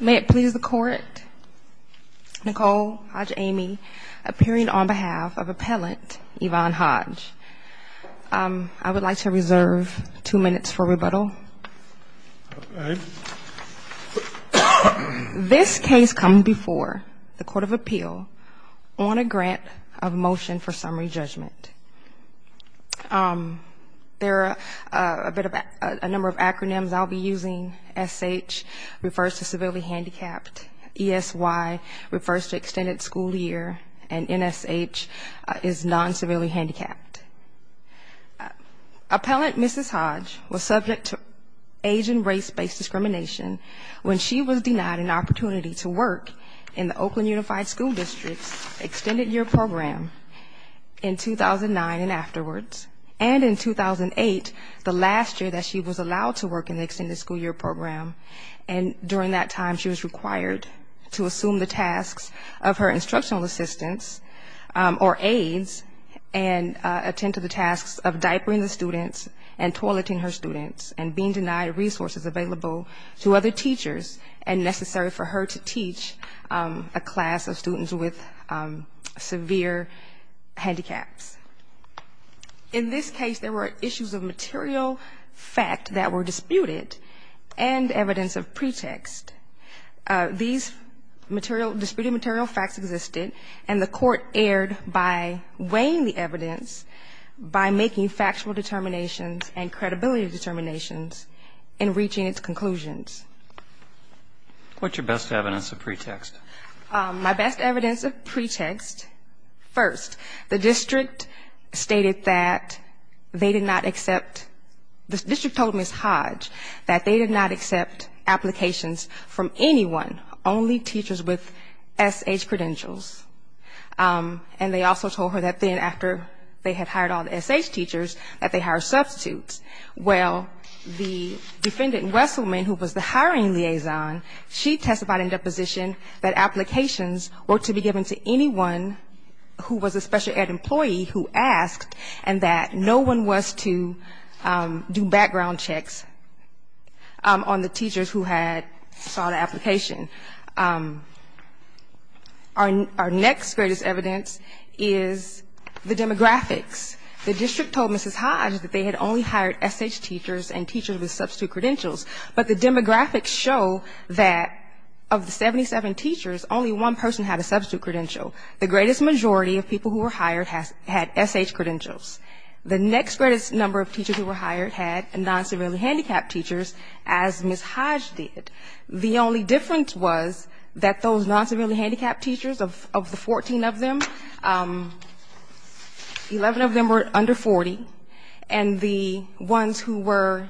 May it please the Court, Nicole Hodge-Amy appearing on behalf of Appellant Yvonne Hodge. I would like to reserve two minutes for rebuttal. This case comes before the Court of Appeal on a grant of motion for summary judgment. There are a number of acronyms I'll be using. SH refers to civilly handicapped, ESY refers to extended school year, and NSH is non-civilly handicapped. Appellant Mrs. Hodge was subject to age and race-based discrimination when she was denied an opportunity to work in the Oakland Unified School District's extended year program in 2009 and afterwards, and in 2008, the last year that she was allowed to work in the extended school year program. And during that time, she was required to assume the tasks of her instructional assistants or aides and attend to the tasks of diapering the students and toileting her students and being denied resources available to other teachers and necessary for her to teach a class of students with severe handicaps. In this case, there were issues of material fact that were disputed and evidence of pretext. These material – disputed material facts existed, and the Court erred by weighing the evidence by making factual determinations and credibility determinations in reaching its conclusions. What's your best evidence of pretext? My best evidence of pretext, first, the district stated that they did not accept – the district told Mrs. Hodge that they did not accept applications from anyone, only teachers with SH credentials. And they also told her that then, after they had hired all the SH teachers, that they hired substitutes. Well, the defendant, Wesselman, who was the hiring liaison, she testified in deposition that applications were to be given to anyone who was a special ed employee who asked, and that no one was to do background checks on the teachers who had sought an application. Our next greatest evidence is the demographics. The district told Mrs. Hodge that they had only hired SH teachers and teachers with substitute credentials. But the demographics show that, of the 77 teachers, only one person had a substitute credential. The greatest majority of people who were hired had SH credentials. The next greatest number of teachers who were hired had non-severely handicapped teachers, as Mrs. Hodge did. The only difference was that those non-severely handicapped teachers, of the 14 of them, 11 of them were non-severely handicapped. One of them were under 40, and the ones who were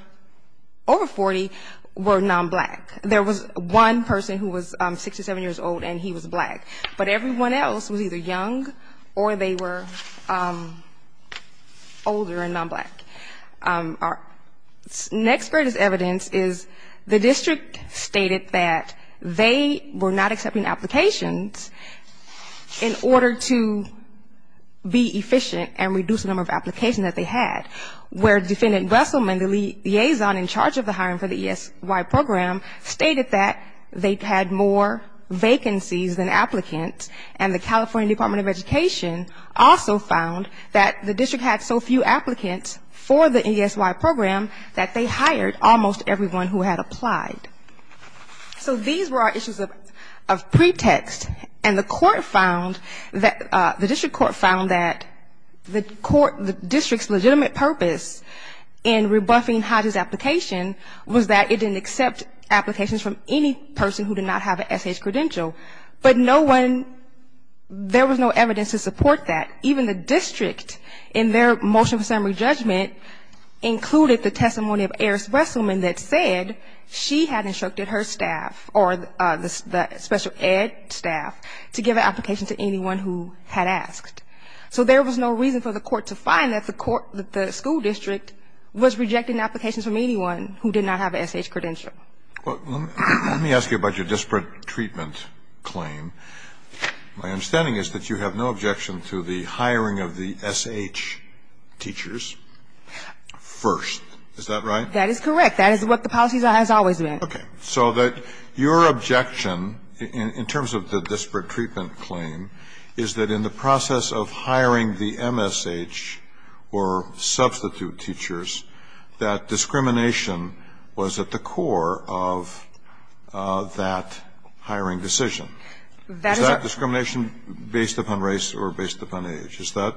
over 40 were non-black. There was one person who was 67 years old, and he was black. But everyone else was either young or they were older and non-black. Our next greatest evidence is the district stated that they were not accepting applications in order to be efficient and reduce the number of applications that they had, where Defendant Besselman, the liaison in charge of the hiring for the ESY program, stated that they had more vacancies than applicants, and the California Department of Education also found that the district had so few applicants for the ESY program that they hired almost everyone who had applied. So these were our issues of pretext. And the court found that, the district court found that the court, the district's legitimate purpose in rebuffing Hodge's application was that it didn't accept applications from any person who did not have an SH credential. But no one, there was no evidence to support that. Even the district in their motion for summary judgment included the testimony of Eris Besselman that said she had instructed her staff to give applications to anyone who had asked. So there was no reason for the court to find that the school district was rejecting applications from anyone who did not have an SH credential. Let me ask you about your disparate treatment claim. My understanding is that you have no objection to the hiring of the SH teachers first. Is that right? That is correct. That is what the policy has always been. Okay. So your objection in terms of the disparate treatment claim is that in the process of hiring the MSH or substitute teachers, that discrimination was at the core of that hiring decision. Is that discrimination based upon race or based upon age? Is that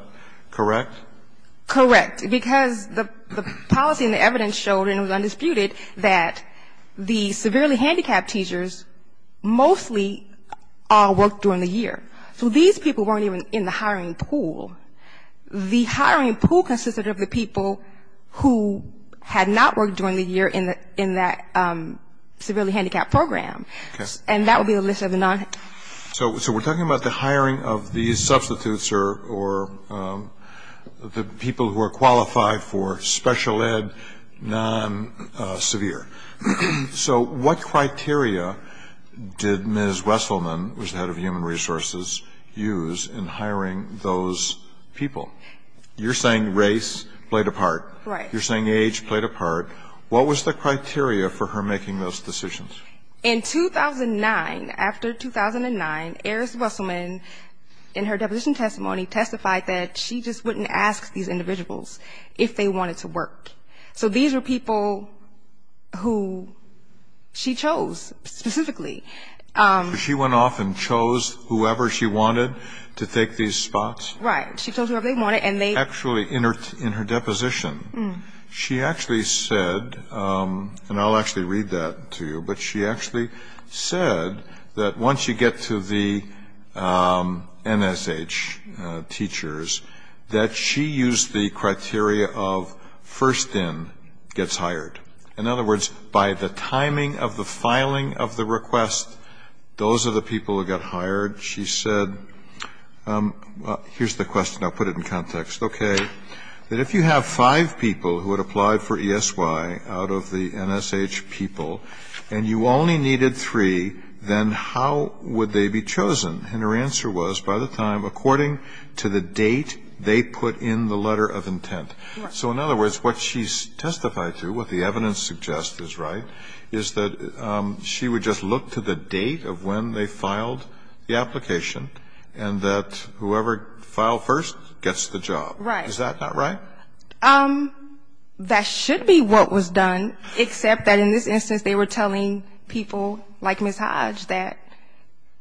correct? Correct. Because the policy and the evidence showed, and it was undisputed, that the severely handicapped teachers mostly all worked during the year. So these people weren't even in the hiring pool. The hiring pool consisted of the people who had not worked during the year in that severely handicapped program. And that would be a list of the non- substitutes or the people who are qualified for special ed, non-severe. So what criteria did Ms. Wesselman, who was head of human resources, use in hiring those people? You're saying race played a part. Right. You're saying age played a part. What was the criteria for her making those decisions? In 2009, after 2009, Eris Wesselman, in her deposition testimony, testified that she just wouldn't ask these individuals if they wanted to work. So these were people who she chose specifically. So she went off and chose whoever she wanted to take these spots? Right. She chose whoever they wanted, and they actually, in her deposition, she actually said, and I'll actually read that to you, but she actually said that once you get to the NSH teachers, that she used the criteria of first in gets hired. In other words, by the timing of the filing of the request, those are the people who got hired. She said, well, here's the question. I'll put it in context. Okay. That if you have five people who had applied for ESY out of the NSH people and you only needed three, then how would they be chosen? And her answer was, by the time, according to the date they put in the letter of intent. So in other words, what she testified to, what the evidence suggests is right, is that she would just look to the date of when they filed the application and that whoever filed first gets the job. Right. Is that not right? That should be what was done, except that in this instance they were telling people like Ms. Hodge that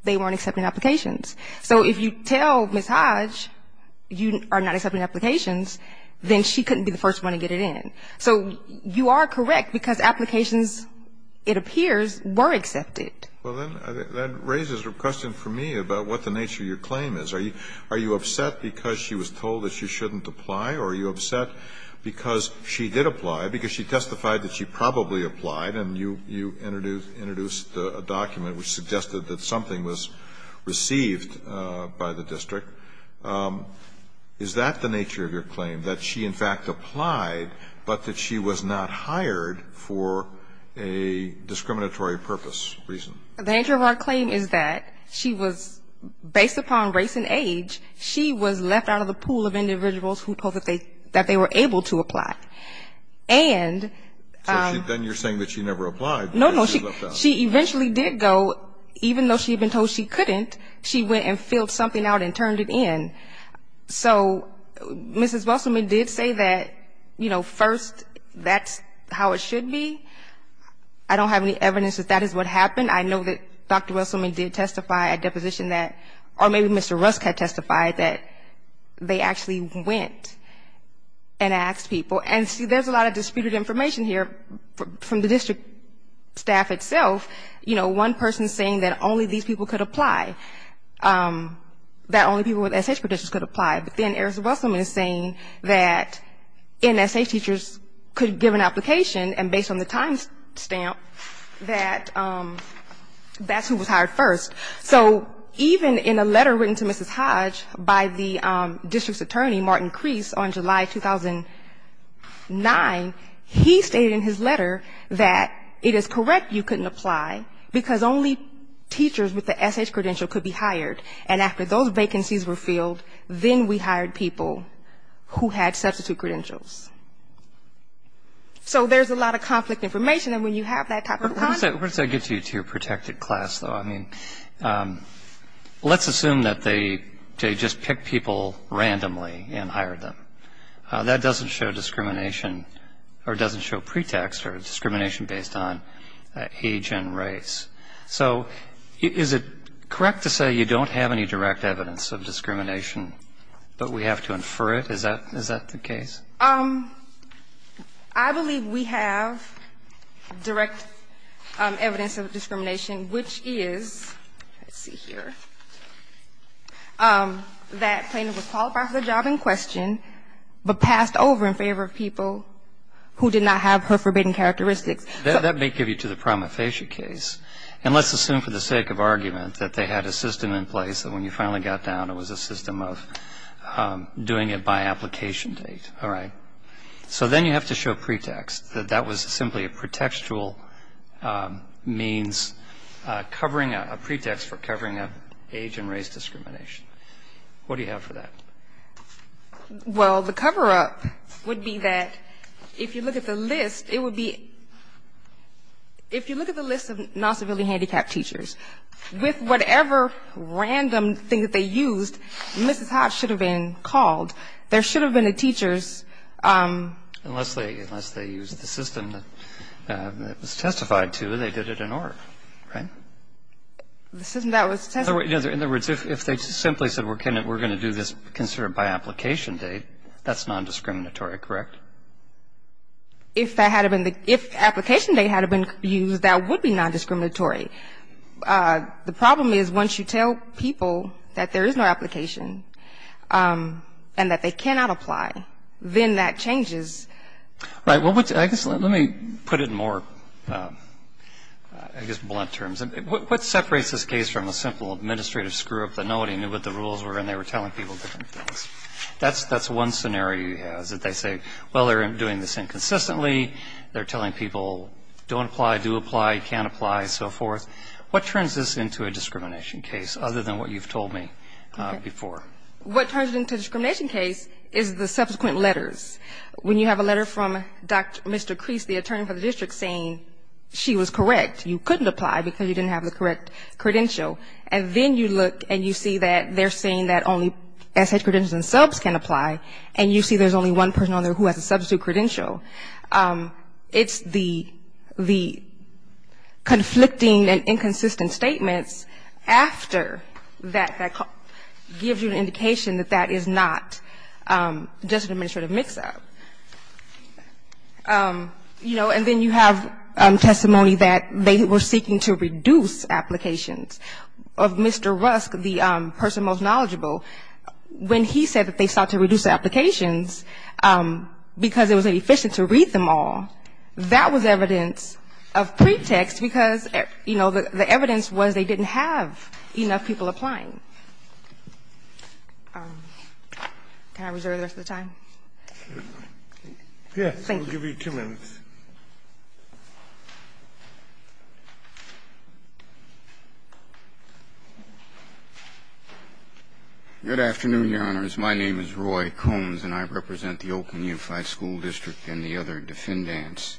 they weren't accepting applications. So if you tell Ms. Hodge you are not accepting applications, then she couldn't be the first one to get it in. So you are correct, because applications, it appears, were accepted. Well, then that raises a question for me about what the nature of your claim is. Are you upset because she was told that she shouldn't apply, or are you upset because she did apply, because she testified that she probably applied and you introduced a document which suggested that something was received by the district. Is that the nature of your claim, that she in fact applied, but that she was not hired for a discriminatory purpose reason? The nature of our claim is that she was, based upon race and age, she was left out of the pool of individuals who told that they were able to apply. Then you're saying that she never applied. No, no. She eventually did go, even though she had been told she couldn't, she went and filled something out and turned it in. So Mrs. Wesselman did say that, you know, first, that's how it should be. I don't have any evidence that that is what happened. I know that Dr. Wesselman did testify at deposition that, or maybe Mr. Rusk had testified that they actually went and asked people. And see, there's a lot of disputed information here from the district staff itself. You know, one person saying that only these people could apply, that only people with SHPD could apply. But then Erickson Wesselman is saying that NSH teachers could give an application, and based on the time stamp, that that's who was hired first. So even in a letter written to Mrs. Hodge by the district's attorney, Martin Kreese, on July 2009, he stated in his letter that it is correct you couldn't apply, because only teachers with the SH credential could be hired. And after those vacancies were filled, then we hired people who had substitute credentials. So there's a lot of conflict information, and when you have that type of conflict. What does that get you to your protected class, though? I mean, let's assume that they just picked people randomly and hired them. That doesn't show discrimination, or doesn't show pretext or discrimination based on age and race. So is it correct to say you don't have any direct evidence of discrimination, but we have to infer it? Is that the case? I believe we have direct evidence of discrimination, which is, let's see here, that plaintiff was qualified for the job in question, but passed over in favor of people who did not have her forbidden characteristics. That may give you to the prima facie case, and let's assume for the sake of argument that they had a system in place that when you finally got down, it was a system of doing it by application date, all right? So then you have to show pretext, that that was simply a pretextual means covering a pretext for covering an age and race discrimination. What do you have for that? Well, the cover-up would be that if you look at the list, it would be ‑‑ if you look at the list of non‑civilian handicapped teachers, with whatever random thing that they used, Mrs. Hodge should have been called. There should have been a teacher's ‑‑ Unless they used the system that was testified to, they did it in order, right? The system that was testified to. In other words, if they simply said we're going to do this, consider it by application date, that's nondiscriminatory, correct? If that had been the ‑‑ if application date had been used, that would be nondiscriminatory. The problem is once you tell people that there is no application and that they cannot apply, then that changes. Right. Well, I guess let me put it in more, I guess, blunt terms. What separates this case from a simple administrative screw‑up that nobody knew what the rules were and they were telling people different things? That's one scenario you have, is that they say, well, they're doing this inconsistently. They're telling people don't apply, do apply, can't apply, so forth. What turns this into a discrimination case, other than what you've told me before? What turns it into a discrimination case is the subsequent letters. When you have a letter from Mr. Crease, the attorney for the district, saying she was correct, you couldn't apply because you didn't have the correct credential. And then you look and you see that they're saying that only SH credentials and subs can apply, and you see there's only one person on there who has a substitute credential. It's the conflicting and inconsistent statements after that gives you an indication that that is not just an administrative mix‑up. You know, and then you have testimony that they were seeking to reduce applications. Of Mr. Rusk, the person most knowledgeable, when he said that they sought to reduce applications because it was inefficient to read them all, that was evidence of pretext, because, you know, the evidence was they didn't have enough people applying. Can I reserve the rest of the time? Yes. Thank you. We'll give you two minutes. Good afternoon, Your Honors. My name is Roy Combs, and I represent the Oakland Unified School District and the other defendants.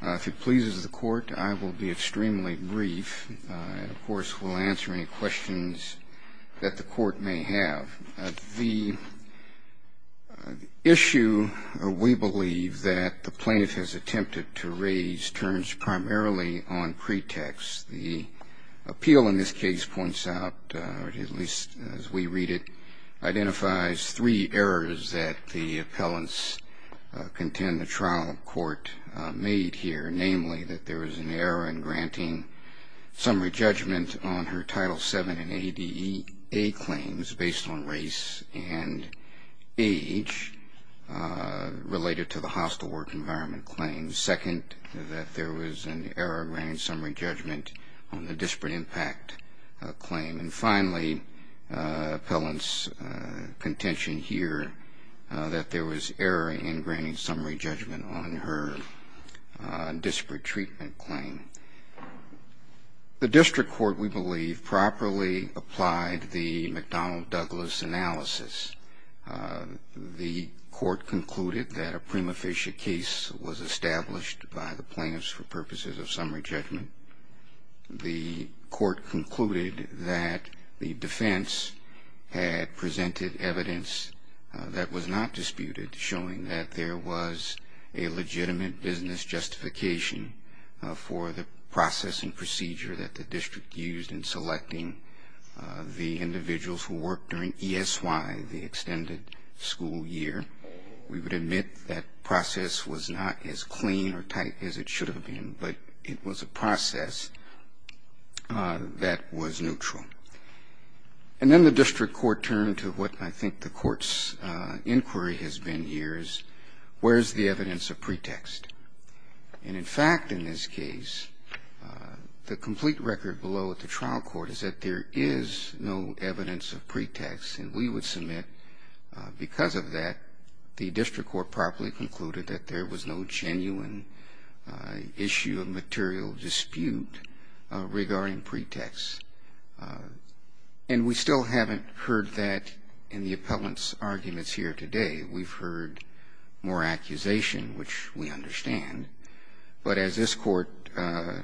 If it pleases the Court, I will be extremely brief and, of course, will answer any questions that the Court may have. The issue, we believe, that the plaintiff has attempted to raise turns primarily on pretext. The appeal in this case points out, or at least as we read it, identifies three errors that the appellants contend the trial court made here, namely that there was an error in granting summary judgment on her Title VII and ADA claims based on race and age related to the hostile work environment claims. Second, that there was an error in granting summary judgment on the disparate impact claim. And finally, appellants contention here that there was error in granting summary judgment on her disparate treatment claim. The district court, we believe, properly applied the McDonnell-Douglas analysis. The court concluded that a prima facie case was established by the plaintiffs for purposes of summary judgment. The court concluded that the defense had presented evidence that was not disputed showing that there was a legitimate business justification for the processing procedure that the district used in selecting the individuals who worked during ESY, the extended school year. We would admit that process was not as clean or tight as it should have been, but it was a process that was neutral. And then the district court turned to what I think the court's inquiry has been here, where is the evidence of pretext? And in fact, in this case, the complete record below at the trial court is that there is no evidence of pretext. And we would submit, because of that, the district court properly concluded that there was no genuine issue of material dispute regarding pretext. And we still haven't heard that in the appellant's arguments here today. We've heard more accusation, which we understand. But as this court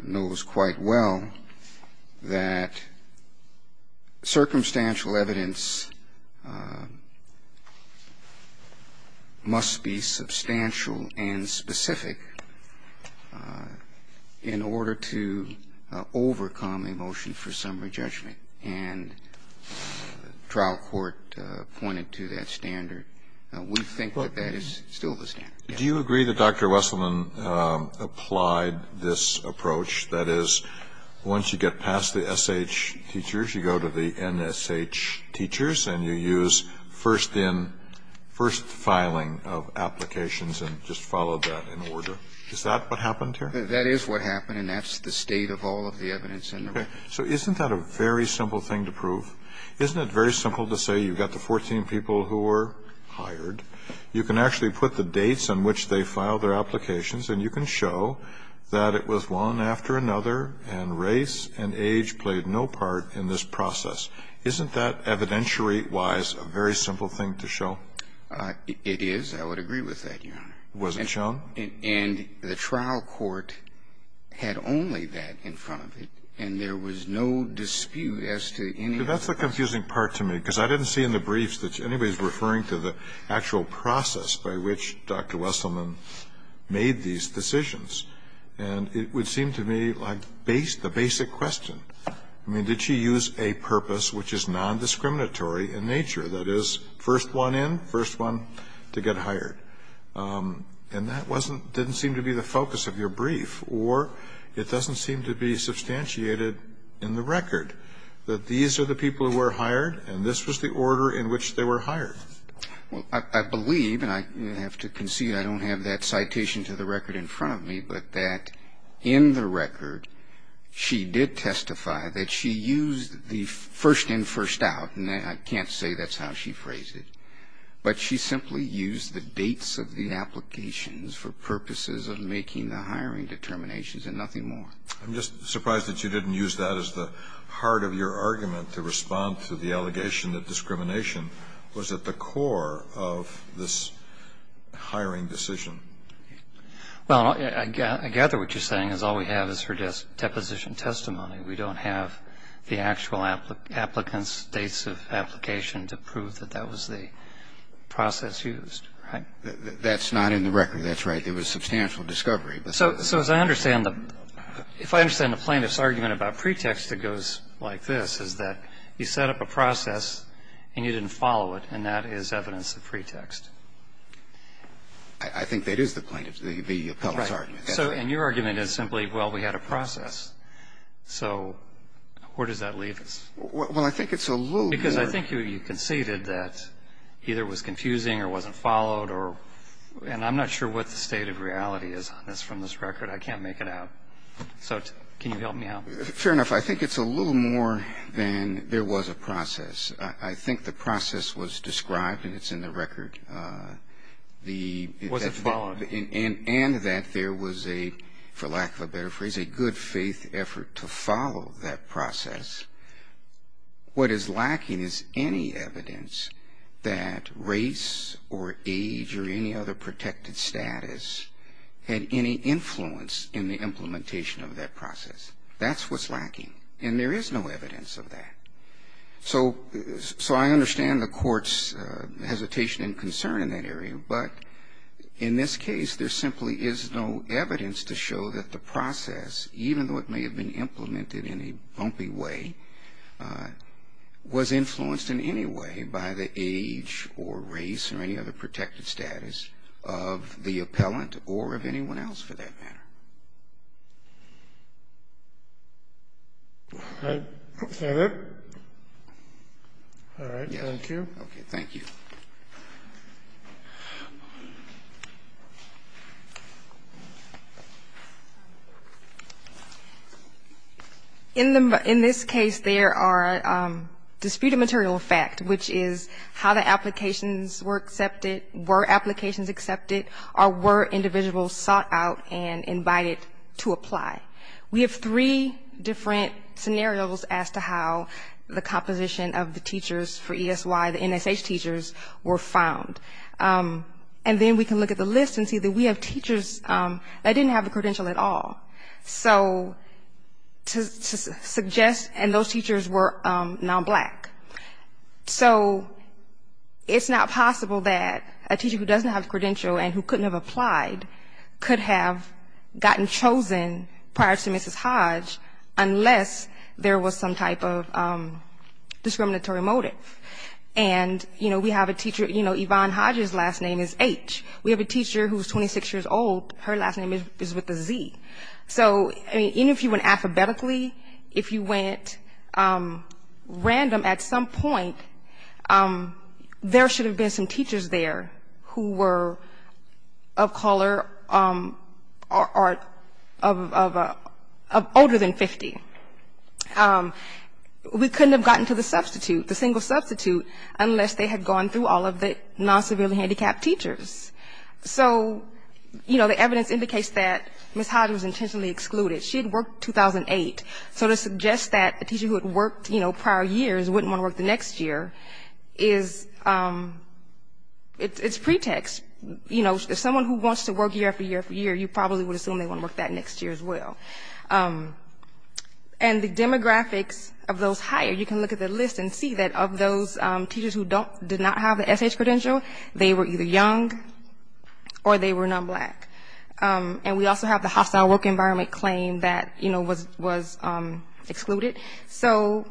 knows quite well, that circumstantial evidence must be substantial and specific in order to overcome a motion for summary judgment. And the trial court pointed to that standard. We think that that is still the standard. Do you agree that Dr. Wesselman applied this approach? That is, once you get past the SH teachers, you go to the NSH teachers, and you use first in, first filing of applications and just follow that in order. Is that what happened here? That is what happened, and that's the state of all of the evidence in the record. Okay. So isn't that a very simple thing to prove? Isn't it very simple to say you've got the 14 people who were hired, you can actually put the dates on which they filed their applications, and you can show that it was one after another, and race and age played no part in this process. Isn't that evidentiary-wise a very simple thing to show? It is. I would agree with that, Your Honor. Was it shown? And the trial court had only that in front of it, and there was no dispute as to any of this. That's the confusing part to me, because I didn't see in the briefs that anybody was referring to the actual process by which Dr. Wesselman made these decisions. And it would seem to me like the basic question. I mean, did she use a purpose which is nondiscriminatory in nature, that is, first one in, first one to get hired? And that didn't seem to be the focus of your brief. Or it doesn't seem to be substantiated in the record that these are the people who were hired, and this was the order in which they were hired. Well, I believe, and I have to concede I don't have that citation to the record in front of me, but that in the record she did testify that she used the first in, first out, and I can't say that's how she phrased it, but she simply used the dates of the applications for purposes of making the hiring determinations and nothing more. I'm just surprised that you didn't use that as the heart of your argument to respond to the allegation that discrimination was at the core of this hiring decision. Well, I gather what you're saying is all we have is her deposition testimony. We don't have the actual applicant's dates of application to prove that that was the process used, right? That's not in the record. That's right. There was substantial discovery. So as I understand, if I understand the plaintiff's argument about pretext, it goes like this, is that you set up a process and you didn't follow it, and that is evidence of pretext. I think that is the plaintiff's, the appellate's argument. Right. So and your argument is simply, well, we had a process. So where does that leave us? Well, I think it's a little more. Because I think you conceded that either it was confusing or wasn't followed or, and I'm not sure what the state of reality is on this from this record. I can't make it out. So can you help me out? Fair enough. I think it's a little more than there was a process. I think the process was described, and it's in the record. Was it followed? And that there was a, for lack of a better phrase, a good faith effort to follow that process. What is lacking is any evidence that race or age or any other protected status had any influence in the implementation of that process. That's what's lacking. And there is no evidence of that. So I understand the Court's hesitation and concern in that area, but in this case there simply is no evidence to show that the process, even though it may have been implemented in a bumpy way, was influenced in any way by the age or race or any other protected status of the appellant or of anyone else, for that matter. All right. Is that it? All right. Thank you. Okay. Thank you. In this case, there are disputed material facts, which is how the applications involved in the process. We have three different scenarios as to how the composition of the teachers for ESY, the NSH teachers, were found. And then we can look at the list and see that we have teachers that didn't have the credential at all. So to suggest, and those teachers were non-black. So it's not possible that a teacher who doesn't have the credential and who couldn't have applied could have gotten chosen prior to Mrs. Hodge unless there was some type of discriminatory motive. And, you know, we have a teacher, you know, Yvonne Hodge's last name is H. We have a teacher who's 26 years old, her last name is with a Z. So, I mean, even if you went alphabetically, if you went random at some point, there should have been some or of older than 50. We couldn't have gotten to the substitute, the single substitute, unless they had gone through all of the non-severely handicapped teachers. So, you know, the evidence indicates that Mrs. Hodge was intentionally excluded. She had worked 2008. So to suggest that a teacher who had worked, you know, prior years wouldn't want to work the next year is, it's pretext. You know, if someone who wants to work year after year after year, you probably would assume they want to work that next year as well. And the demographics of those higher, you can look at the list and see that of those teachers who did not have the SH credential, they were either young or they were non-black. And we also have the hostile work environment claim that, you know, was excluded. So,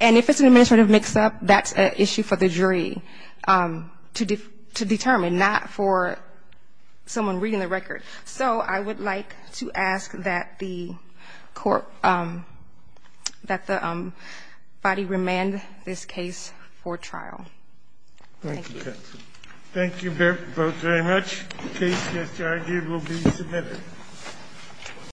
and if it's an administrative mix-up, that's an issue for the jury to determine, not for someone reading the record. So I would like to ask that the body remand this case for trial. Thank you.